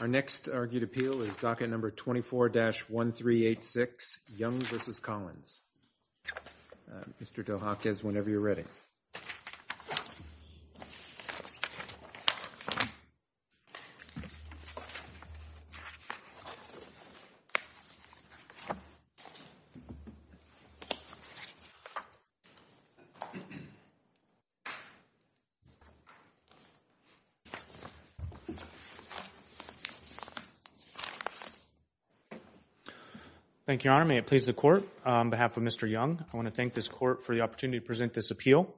Our next argued appeal is docket number 24-1386, Young v. Collins. Mr. Dohakis, whenever you're ready. Thank you, Your Honor. May it please the court, on behalf of Mr. Young, I want to thank this court for the opportunity to present this appeal.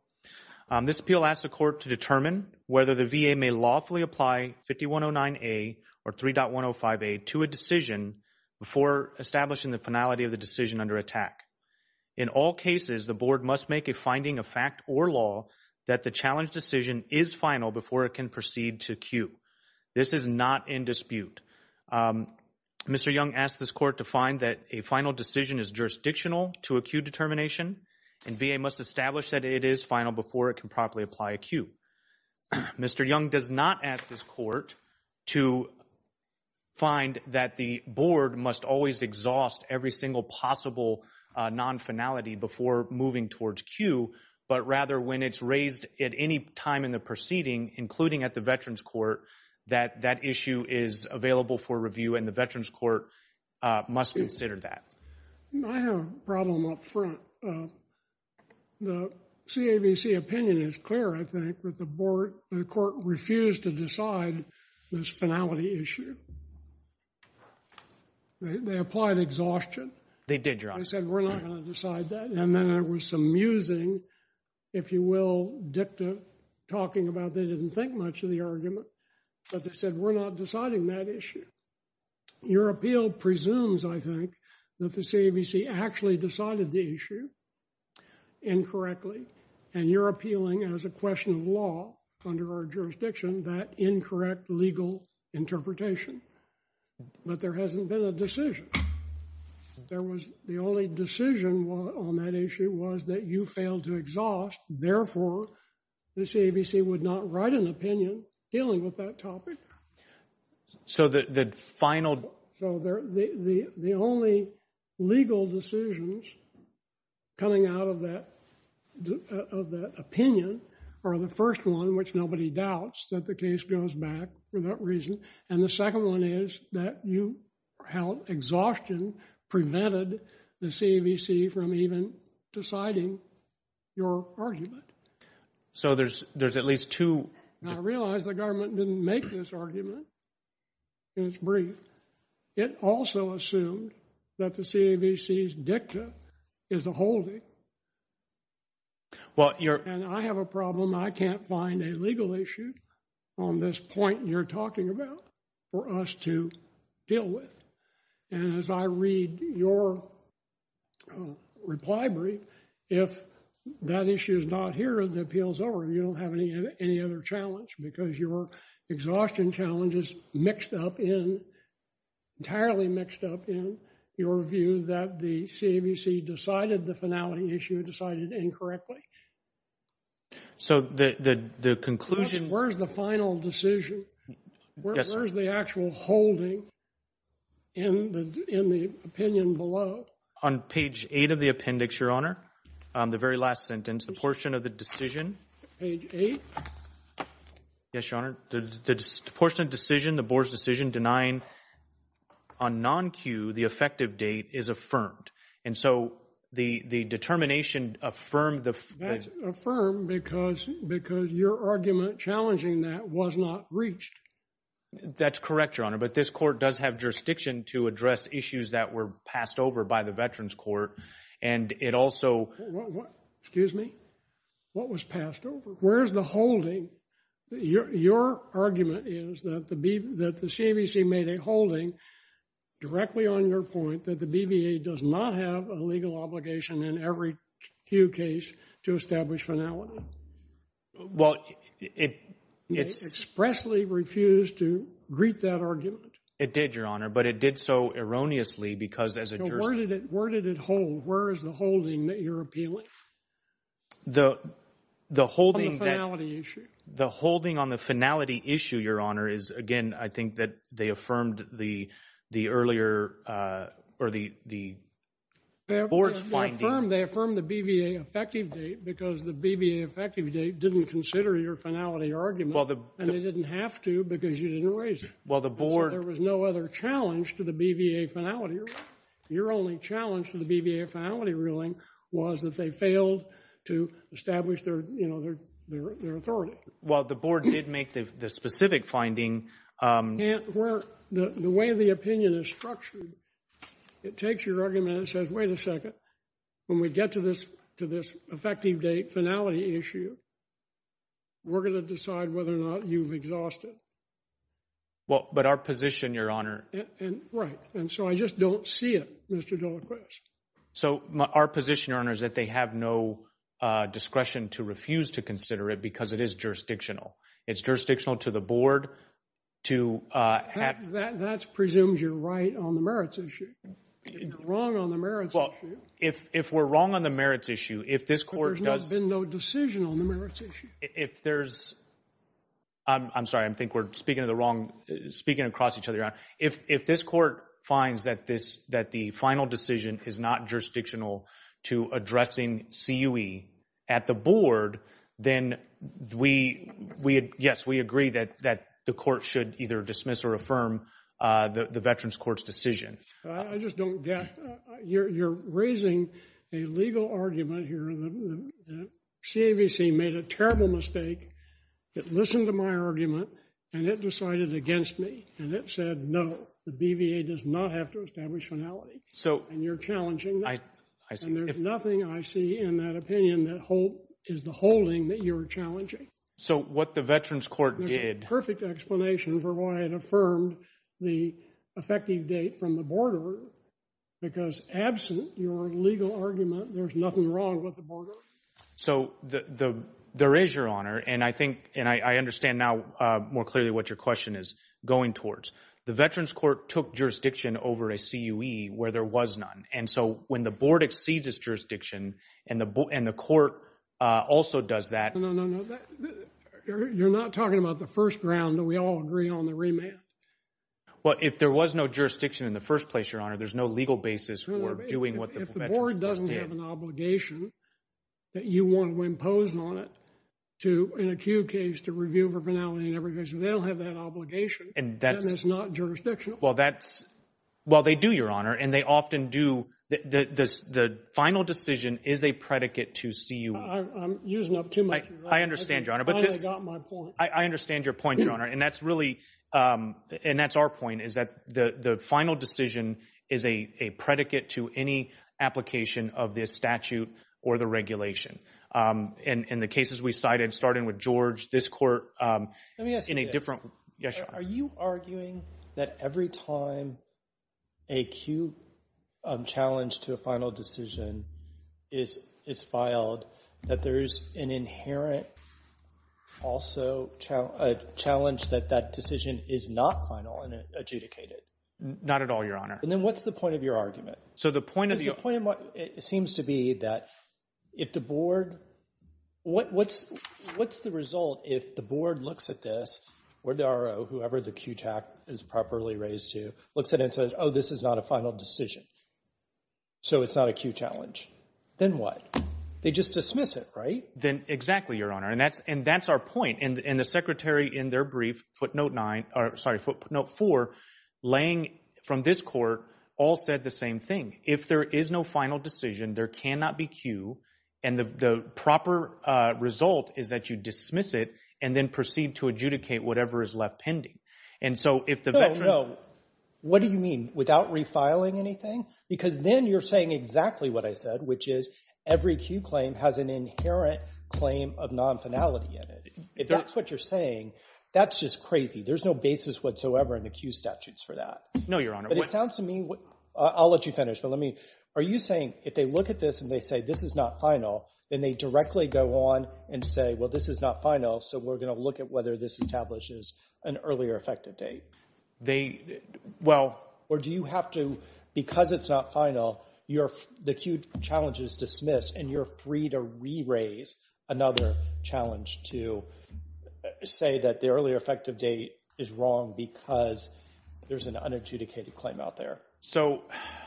This appeal asks the court to determine whether the VA may lawfully apply 5109A or 3.105A to a decision before establishing the finality of the decision under attack. In all cases, the board must make a finding of fact or law that the challenge decision is final before it can proceed to cue. This is not in dispute. Mr. Young asked this court to find that a final decision is jurisdictional to acute determination and VA must establish that it is final before it can properly apply a cue. Mr. Young does not ask this court to find that the board must always exhaust every single possible non-finality before moving towards cue, but rather when it's raised at any time in the proceeding, including at the Veterans Court, that that issue is available for review and the Veterans Court must consider that. I have a problem up front. The CAVC opinion is clear, I think, that the court refused to decide this finality issue. They applied exhaustion. They did, Your Honor. They said, we're not going to decide that. And then there was some musing, if you will, dicta, talking about they didn't think much of the argument. But they said, we're not deciding that issue. Your appeal presumes, I think, that the CAVC actually decided the issue incorrectly. And you're appealing as a question of law under our jurisdiction that incorrect legal interpretation. But there hasn't been a decision. The only decision on that issue was that you failed to exhaust. Therefore, the CAVC would not write an opinion dealing with that topic. So the final— So the only legal decisions coming out of that opinion are the first one, which nobody doubts, that the case goes back for that reason. And the second one is that you held exhaustion prevented the CAVC from even deciding your argument. So there's at least two— I realize the government didn't make this argument in its brief. It also assumed that the CAVC's dicta is a holding. And I have a problem. I can't find a legal issue on this point you're talking about for us to deal with. And as I read your reply brief, if that issue is not here, the appeal's over. You don't have any other challenge because your exhaustion challenge is mixed up in— entirely mixed up in your view that the CAVC decided the finality issue, decided incorrectly. So the conclusion— Where's the final decision? Where's the actual holding in the opinion below? On page 8 of the appendix, Your Honor, the very last sentence, the portion of the decision— Page 8? Yes, Your Honor. The portion of the decision, the board's decision denying on non-cue the effective date is affirmed. And so the determination affirmed the— That's affirmed because your argument challenging that was not reached. That's correct, Your Honor. But this court does have jurisdiction to address issues that were passed over by the Veterans Court. And it also— Excuse me? What was passed over? Where's the holding? Your argument is that the CAVC made a holding directly on your point that the BVA does not have a legal obligation in every cue case to establish finality. Well, it— It expressly refused to greet that argument. It did, Your Honor, but it did so erroneously because as a jurist— So where did it hold? Where is the holding that you're appealing? The holding that— On the finality issue. The holding on the finality issue, Your Honor, is, again, I think that they affirmed the earlier—or the board's finding— They affirmed the BVA effective date because the BVA effective date didn't consider your finality argument. And they didn't have to because you didn't raise it. Well, the board— So there was no other challenge to the BVA finality. Your only challenge to the BVA finality ruling was that they failed to establish their authority. Well, the board did make the specific finding— The way the opinion is structured, it takes your argument and says, wait a second. When we get to this effective date finality issue, we're going to decide whether or not you've exhausted. Well, but our position, Your Honor— Right. And so I just don't see it, Mr. Delacroix. So our position, Your Honor, is that they have no discretion to refuse to consider it because it is jurisdictional. It's jurisdictional to the board to have— That presumes you're right on the merits issue. You're wrong on the merits issue. Well, if we're wrong on the merits issue, if this court does— There's been no decision on the merits issue. If there's—I'm sorry. I think we're speaking of the wrong—speaking across each other, Your Honor. If this court finds that this—that the final decision is not jurisdictional to addressing CUE at the board, then we—yes, we agree that the court should either dismiss or affirm the Veterans Court's decision. I just don't get—you're raising a legal argument here. The CAVC made a terrible mistake. It listened to my argument, and it decided against me, and it said, no, the BVA does not have to establish finality. So— And you're challenging that. I see. And there's nothing I see in that opinion that is the holding that you're challenging. So what the Veterans Court did— There's a perfect explanation for why it affirmed the effective date from the board order because absent your legal argument, there's nothing wrong with the board order. So there is, Your Honor, and I think—and I understand now more clearly what your question is going towards. The Veterans Court took jurisdiction over a CUE where there was none. And so when the board exceeds its jurisdiction and the court also does that— No, no, no. You're not talking about the first round. We all agree on the remand. Well, if there was no jurisdiction in the first place, Your Honor, there's no legal basis for doing what the Veterans Court did. They don't have an obligation that you want to impose on it to, in a CUE case, to review for finality in every case. They don't have that obligation. And that's— That is not jurisdictional. Well, that's—well, they do, Your Honor, and they often do—the final decision is a predicate to CUE. I'm using up too much of your time. I understand, Your Honor, but this— I finally got my point. I understand your point, Your Honor, and that's really—and that's our point, is that the final decision is a predicate to any application of this statute or the regulation. In the cases we cited, starting with George, this court— Let me ask you this. Yes, Your Honor. Are you arguing that every time a CUE challenge to a final decision is filed, that there is an inherent also challenge that that decision is not final and adjudicated? Not at all, Your Honor. And then what's the point of your argument? So the point of your— The point of my—it seems to be that if the board—what's the result if the board looks at this, or the RO, whoever the CUE is properly raised to, looks at it and says, oh, this is not a final decision, so it's not a CUE challenge? Then what? They just dismiss it, right? Then—exactly, Your Honor, and that's our point. And the secretary in their brief, footnote 9—sorry, footnote 4, laying from this court, all said the same thing. If there is no final decision, there cannot be CUE, and the proper result is that you dismiss it and then proceed to adjudicate whatever is left pending. And so if the veteran— No, no. What do you mean, without refiling anything? Because then you're saying exactly what I said, which is every CUE claim has an inherent claim of non-finality in it. If that's what you're saying, that's just crazy. There's no basis whatsoever in the CUE statutes for that. No, Your Honor. But it sounds to me—I'll let you finish, but let me—are you saying if they look at this and they say this is not final, then they directly go on and say, well, this is not final, so we're going to look at whether this establishes an earlier effective date? They—well— Or do you have to—because it's not final, the CUE challenge is dismissed, and you're free to re-raise another challenge to say that the earlier effective date is wrong because there's an unadjudicated claim out there. So—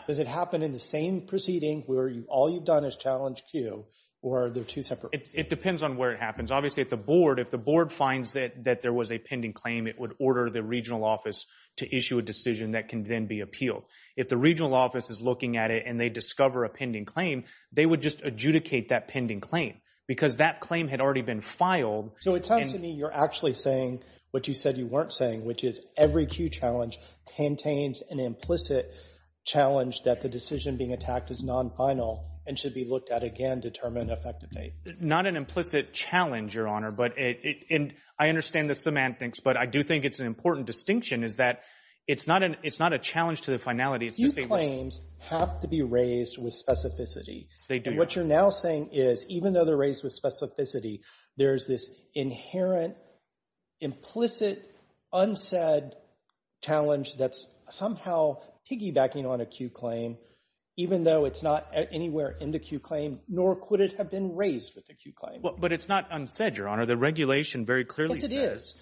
Does it happen in the same proceeding where all you've done is challenge CUE, or are there two separate— It depends on where it happens. Obviously, at the board, if the board finds that there was a pending claim, it would order the regional office to issue a decision that can then be appealed. If the regional office is looking at it and they discover a pending claim, they would just adjudicate that pending claim because that claim had already been filed. So it sounds to me you're actually saying what you said you weren't saying, which is every CUE challenge contains an implicit challenge that the decision being attacked is non-final and should be looked at again to determine an effective date. Not an implicit challenge, Your Honor, but it—and I understand the semantics, but I do think it's an important distinction is that it's not a challenge to the finality. CUE claims have to be raised with specificity. They do. And what you're now saying is even though they're raised with specificity, there's this inherent, implicit, unsaid challenge that's somehow piggybacking on a CUE claim even though it's not anywhere in the CUE claim, nor could it have been raised with the CUE claim. But it's not unsaid, Your Honor. The regulation very clearly says— Yes, it is.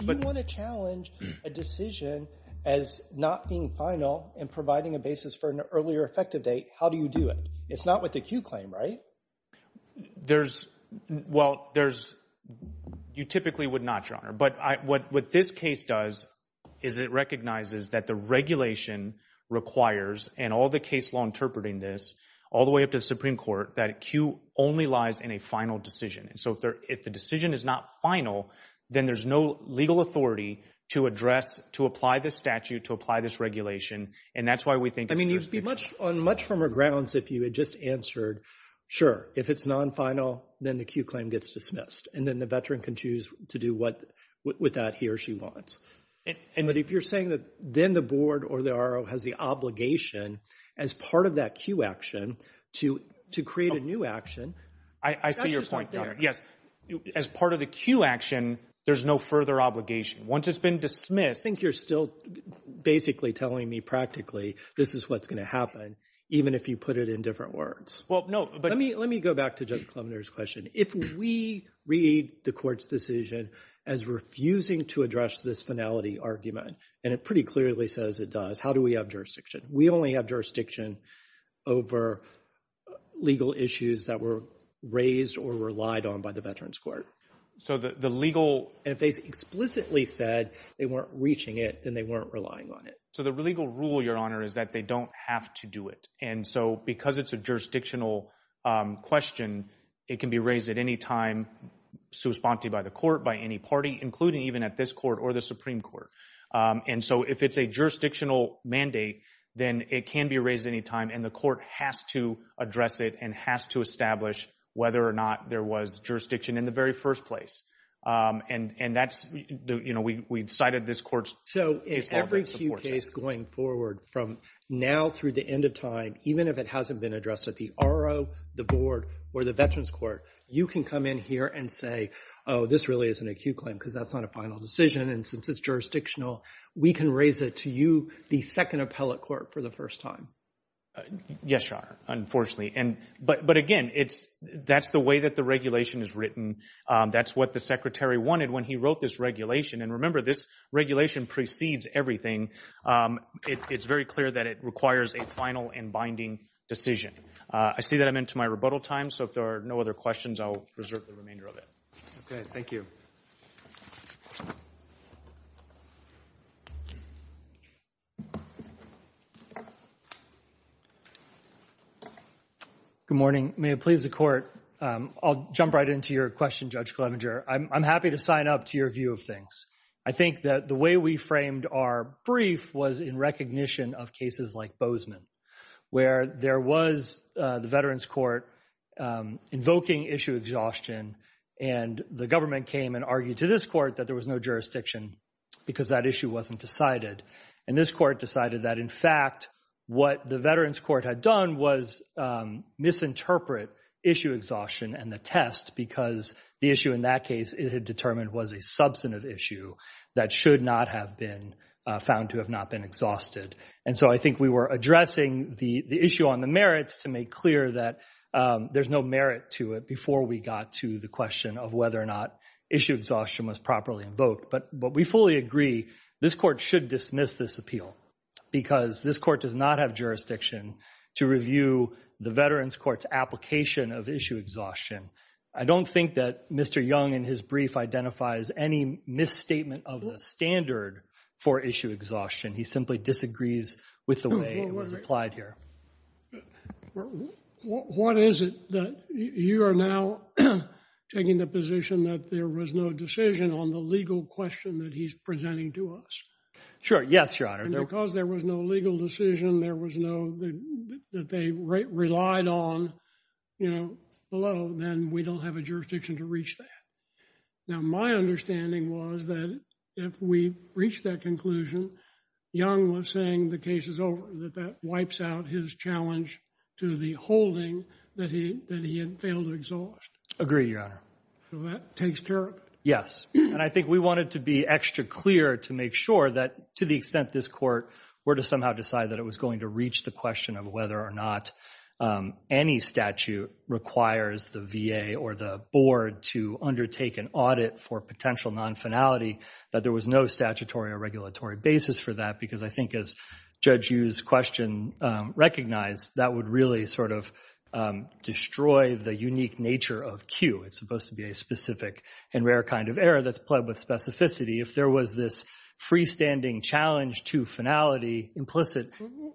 If you want to challenge a decision as not being final and providing a basis for an earlier effective date, how do you do it? It's not with the CUE claim, right? There's—well, there's—you typically would not, Your Honor. But what this case does is it recognizes that the regulation requires, and all the case law interpreting this all the way up to the Supreme Court, that a CUE only lies in a final decision. And so if the decision is not final, then there's no legal authority to address, to apply this statute, to apply this regulation, and that's why we think it's jurisdictional. I mean, you'd be much—on much firmer grounds if you had just answered, sure, if it's non-final, then the CUE claim gets dismissed, and then the veteran can choose to do what—with that he or she wants. But if you're saying that then the board or the RO has the obligation as part of that CUE action to create a new action— I see your point, Your Honor. Yes. As part of the CUE action, there's no further obligation. Once it's been dismissed— I think you're still basically telling me practically this is what's going to happen, even if you put it in different words. Well, no, but— Let me go back to Judge Klemner's question. If we read the court's decision as refusing to address this finality argument, and it pretty clearly says it does, how do we have jurisdiction? We only have jurisdiction over legal issues that were raised or relied on by the Veterans Court. So the legal— And if they explicitly said they weren't reaching it, then they weren't relying on it. So the legal rule, Your Honor, is that they don't have to do it. And so because it's a jurisdictional question, it can be raised at any time, so it's prompted by the court, by any party, including even at this court or the Supreme Court. And so if it's a jurisdictional mandate, then it can be raised at any time, and the court has to address it and has to establish whether or not there was jurisdiction in the very first place. And that's—you know, we cited this court's case law. So in every case going forward from now through the end of time, even if it hasn't been addressed at the RO, the board, or the Veterans Court, you can come in here and say, oh, this really is an acute claim because that's not a final decision, and since it's jurisdictional, we can raise it to you, the second appellate court, for the first time. Yes, Your Honor, unfortunately. But again, that's the way that the regulation is written. That's what the Secretary wanted when he wrote this regulation. And remember, this regulation precedes everything. It's very clear that it requires a final and binding decision. I see that I'm into my rebuttal time, so if there are no other questions, I'll reserve the remainder of it. Okay, thank you. Good morning. May it please the Court. I'll jump right into your question, Judge Clevenger. I'm happy to sign up to your view of things. I think that the way we framed our brief was in recognition of cases like Bozeman, where there was the Veterans Court invoking issue exhaustion, and the government came and argued to this court that there was no jurisdiction because that issue wasn't decided. And this court decided that, in fact, what the Veterans Court had done was misinterpret issue exhaustion and the test because the issue in that case, it had determined, was a substantive issue that should not have been found to have not been exhausted. And so I think we were addressing the issue on the merits to make clear that there's no merit to it before we got to the question of whether or not issue exhaustion was properly invoked. But we fully agree, this court should dismiss this appeal because this court does not have jurisdiction to review the Veterans Court's application of issue exhaustion. I don't think that Mr. Young in his brief identifies any misstatement of the standard for issue exhaustion. He simply disagrees with the way it was applied here. What is it that you are now taking the position that there was no decision on the legal question that he's presenting to us? Sure, yes, Your Honor. And because there was no legal decision, there was no, that they relied on, you know, below, then we don't have a jurisdiction to reach that. Now my understanding was that if we reached that conclusion, Young was saying the case is over, that that wipes out his challenge to the holding that he had failed to exhaust. Agree, Your Honor. So that takes care of it. Yes, and I think we wanted to be extra clear to make sure that to the extent this court were to somehow decide that it was going to reach the question of whether or not any statute requires the VA or the board to undertake an audit for potential non-finality, that there was no statutory or regulatory basis for that. Because I think as Judge Yu's question recognized, that would really sort of destroy the unique nature of Q. It's supposed to be a specific and rare kind of error that's played with specificity. If there was this freestanding challenge to finality implicit.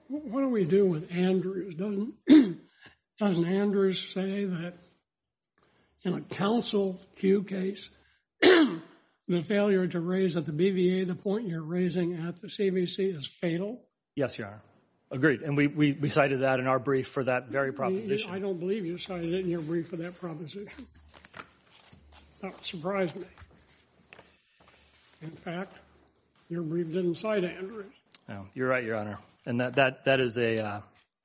What do we do with Andrews? Doesn't Andrews say that in a counsel Q case, the failure to raise at the BVA the point you're raising at the CBC is fatal? Yes, Your Honor. Agreed, and we cited that in our brief for that very proposition. I don't believe you cited it in your brief for that proposition. That would surprise me. In fact, your brief didn't cite Andrews. No, you're right, Your Honor. And that is an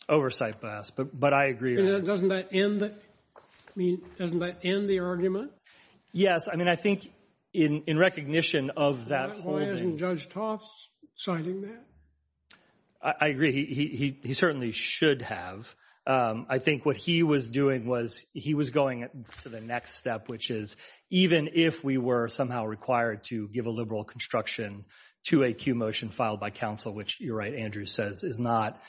oversight bias, but I agree. Doesn't that end the argument? Yes. I mean, I think in recognition of that holding. Why isn't Judge Toth citing that? I agree. He certainly should have. I think what he was doing was he was going to the next step, which is even if we were somehow required to give a liberal construction to a Q motion filed by counsel, which you're right, Andrews says is not,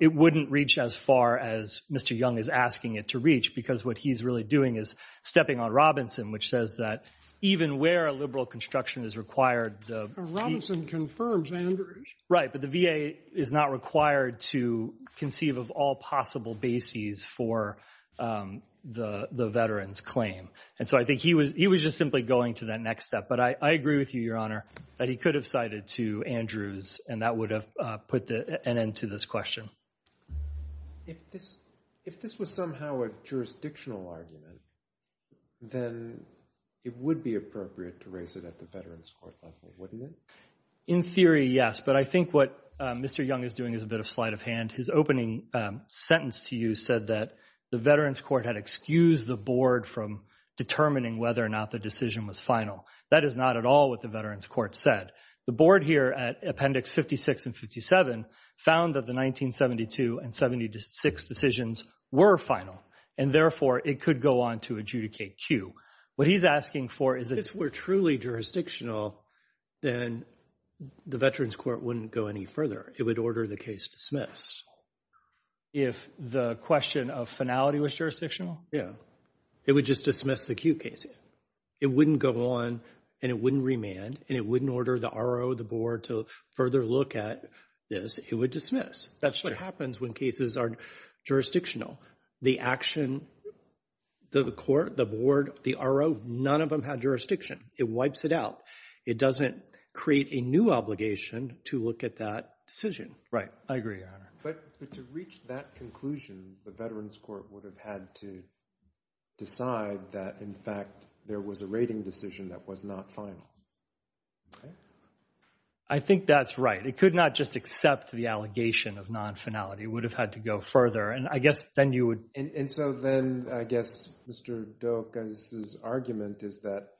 it wouldn't reach as far as Mr. Young is asking it to reach, because what he's really doing is stepping on Robinson, which says that even where a liberal construction is required. Robinson confirms Andrews. Right, but the VA is not required to conceive of all possible bases for the veteran's claim. And so I think he was just simply going to that next step. But I agree with you, Your Honor. That he could have cited to Andrews, and that would have put an end to this question. If this was somehow a jurisdictional argument, then it would be appropriate to raise it at the veterans court level, wouldn't it? In theory, yes. But I think what Mr. Young is doing is a bit of sleight of hand. His opening sentence to you said that the veterans court had excused the board from determining whether or not the decision was final. That is not at all what the veterans court said. The board here at Appendix 56 and 57 found that the 1972 and 76 decisions were final, and therefore it could go on to adjudicate Q. What he's asking for is that if it were truly jurisdictional, then the veterans court wouldn't go any further. It would order the case dismissed. If the question of finality was jurisdictional? Yeah. It would just dismiss the Q case. It wouldn't go on, and it wouldn't remand, and it wouldn't order the RO or the board to further look at this. It would dismiss. That's what happens when cases are jurisdictional. The action, the court, the board, the RO, none of them had jurisdiction. It wipes it out. It doesn't create a new obligation to look at that decision. I agree, Your Honor. But to reach that conclusion, the veterans court would have had to decide that, in fact, there was a rating decision that was not final. I think that's right. It could not just accept the allegation of non-finality. It would have had to go further. And I guess then you would – And so then I guess Mr. Doak's argument is that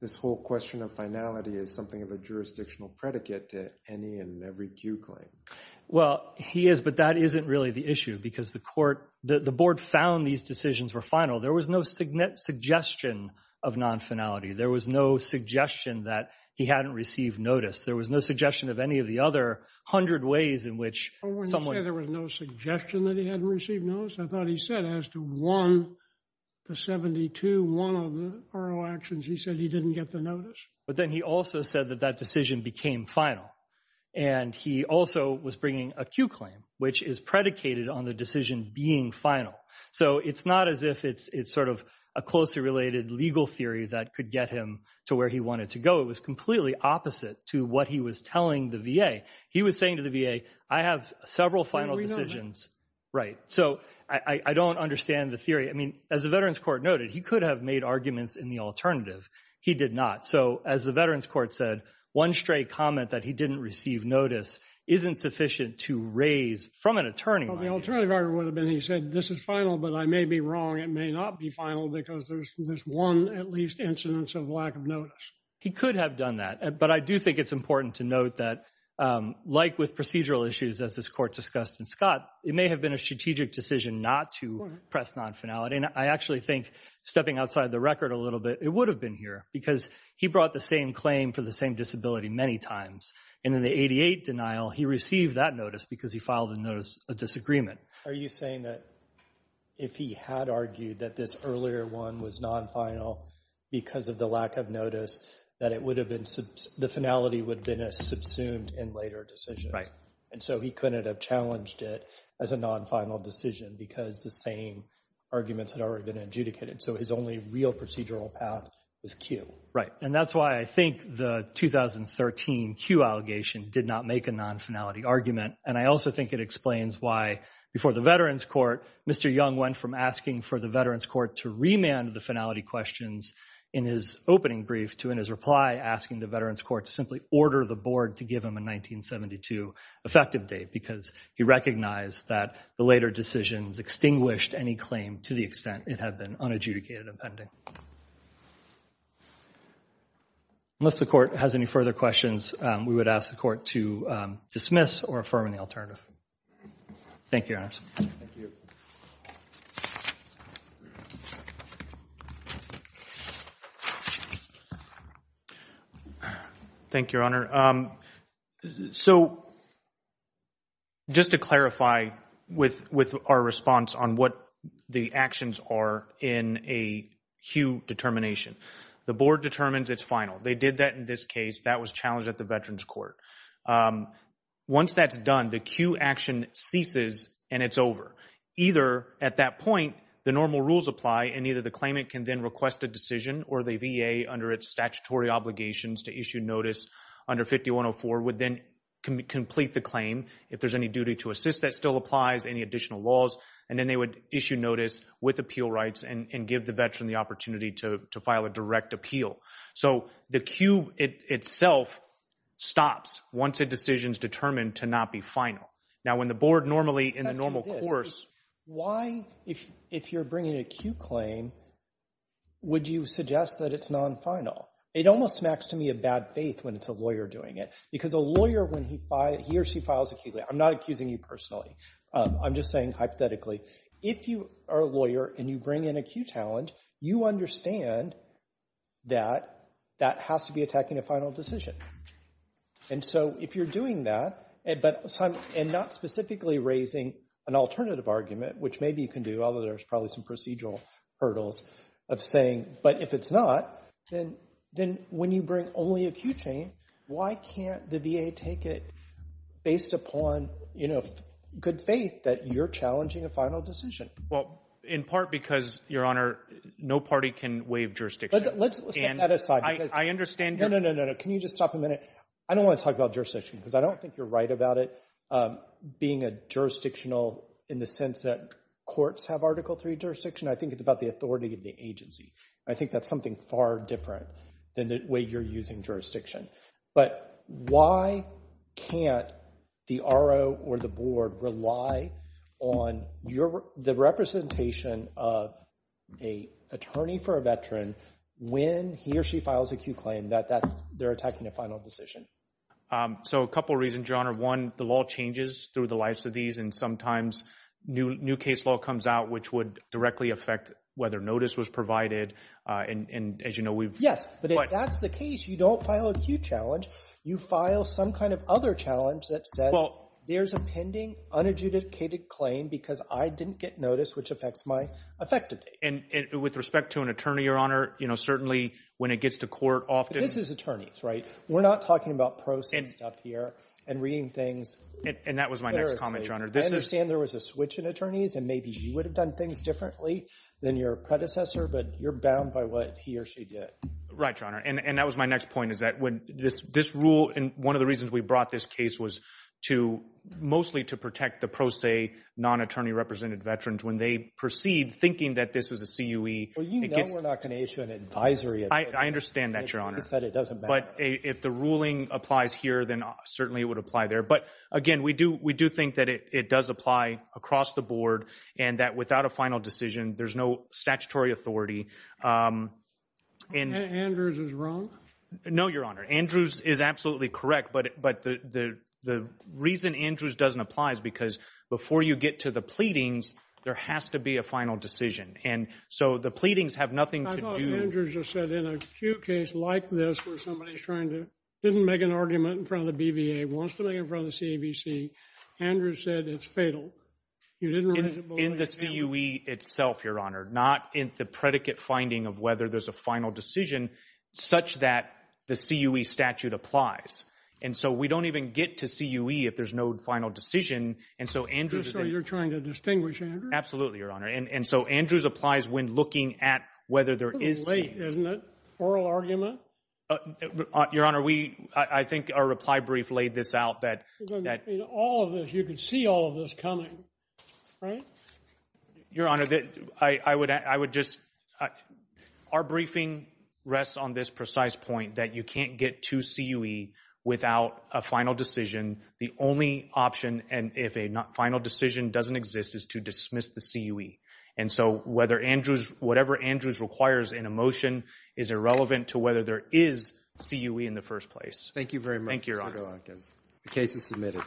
this whole question of finality is something of a jurisdictional predicate to any and every Q claim. Well, he is, but that isn't really the issue because the court – the board found these decisions were final. There was no suggestion of non-finality. There was no suggestion that he hadn't received notice. There was no suggestion of any of the other hundred ways in which someone – I wouldn't say there was no suggestion that he hadn't received notice. I thought he said as to one, the 72, one of the RO actions, he said he didn't get the notice. But then he also said that that decision became final. And he also was bringing a Q claim, which is predicated on the decision being final. So it's not as if it's sort of a closely related legal theory that could get him to where he wanted to go. It was completely opposite to what he was telling the VA. He was saying to the VA, I have several final decisions. So I don't understand the theory. I mean, as the Veterans Court noted, he could have made arguments in the alternative. He did not. So as the Veterans Court said, one stray comment that he didn't receive notice isn't sufficient to raise from an attorney. Well, the alternative argument would have been he said this is final, but I may be wrong. It may not be final because there's one at least incidence of lack of notice. He could have done that. But I do think it's important to note that like with procedural issues, as this Court discussed in Scott, it may have been a strategic decision not to press non-finality. And I actually think stepping outside the record a little bit, it would have been here because he brought the same claim for the same disability many times. And in the 88 denial, he received that notice because he filed a notice of disagreement. Are you saying that if he had argued that this earlier one was non-final because of the lack of notice, that the finality would have been subsumed in later decisions? Right. And so he couldn't have challenged it as a non-final decision because the same arguments had already been adjudicated. So his only real procedural path was Q. Right. And that's why I think the 2013 Q allegation did not make a non-finality argument. And I also think it explains why before the Veterans Court, Mr. Young went from asking for the Veterans Court to remand the finality questions in his opening brief to, in his reply, asking the Veterans Court to simply order the board to give him a 1972 effective date because he recognized that the later decisions extinguished any claim to the extent it had been unadjudicated and pending. Unless the Court has any further questions, we would ask the Court to dismiss or affirm the alternative. Thank you, Your Honors. Thank you. Thank you, Your Honor. So just to clarify with our response on what the actions are in a Q determination. The board determines it's final. They did that in this case. That was challenged at the Veterans Court. Once that's done, the Q action ceases and it's over. Either at that point the normal rules apply and either the claimant can then request a decision or the VA, under its statutory obligations to issue notice under 5104, would then complete the claim. If there's any duty to assist, that still applies. Any additional laws. And then they would issue notice with appeal rights and give the Veteran the opportunity to file a direct appeal. So the Q itself stops once a decision is determined to not be final. Now when the board normally in the normal course. Why, if you're bringing a Q claim, would you suggest that it's non-final? It almost smacks to me of bad faith when it's a lawyer doing it. Because a lawyer, when he or she files a Q claim, I'm not accusing you personally. I'm just saying hypothetically. If you are a lawyer and you bring in a Q challenge, you understand that that has to be attacking a final decision. And so if you're doing that and not specifically raising an alternative argument, which maybe you can do, although there's probably some procedural hurdles of saying, but if it's not, then when you bring only a Q claim, why can't the VA take it based upon good faith that you're challenging a final decision? Well, in part because, Your Honor, no party can waive jurisdiction. Let's set that aside. I understand. No, no, no, no, no. Can you just stop a minute? I don't want to talk about jurisdiction because I don't think you're right about it. Being a jurisdictional in the sense that courts have Article III jurisdiction, I think it's about the authority of the agency. I think that's something far different than the way you're using jurisdiction. But why can't the RO or the board rely on the representation of an attorney for a veteran when he or she files a Q claim that they're attacking a final decision? So a couple of reasons, Your Honor. One, the law changes through the lives of these, and sometimes new case law comes out, which would directly affect whether notice was provided. And as you know, we've- Yes, but if that's the case, you don't file a Q challenge. You file some kind of other challenge that says there's a pending unadjudicated claim because I didn't get notice, which affects my effectiveness. And with respect to an attorney, Your Honor, certainly when it gets to court often- This is attorneys, right? We're not talking about pros and stuff here and reading things- And that was my next comment, Your Honor. I understand there was a switch in attorneys, and maybe you would have done things differently than your predecessor, but you're bound by what he or she did. Right, Your Honor. And that was my next point, is that when this rule- And one of the reasons we brought this case was to- mostly to protect the pro se, non-attorney-represented veterans. When they proceed thinking that this is a CUE- Well, you know we're not going to issue an advisory- I understand that, Your Honor. It doesn't matter. But if the ruling applies here, then certainly it would apply there. But, again, we do think that it does apply across the board and that without a final decision, there's no statutory authority. Andrews is wrong? No, Your Honor. Andrews is absolutely correct, but the reason Andrews doesn't apply is because before you get to the pleadings, there has to be a final decision. And so the pleadings have nothing to do- I thought Andrews just said in a CUE case like this where somebody's trying to- didn't make an argument in front of the BVA, wants to make it in front of the CAVC, Andrews said it's fatal. You didn't raise it before- In the CUE itself, Your Honor. Not in the predicate finding of whether there's a final decision such that the CUE statute applies. And so we don't even get to CUE if there's no final decision, and so Andrews is- So you're trying to distinguish Andrews? Absolutely, Your Honor. And so Andrews applies when looking at whether there is- It's late, isn't it? Oral argument? Your Honor, I think our reply brief laid this out that- In all of this, you could see all of this coming, right? Your Honor, I would just- Our briefing rests on this precise point that you can't get to CUE without a final decision. The only option, and if a final decision doesn't exist, is to dismiss the CUE. And so whatever Andrews requires in a motion is irrelevant to whether there is CUE in the first place. Thank you very much, Mr. DeLancas. Thank you, Your Honor. The case is submitted.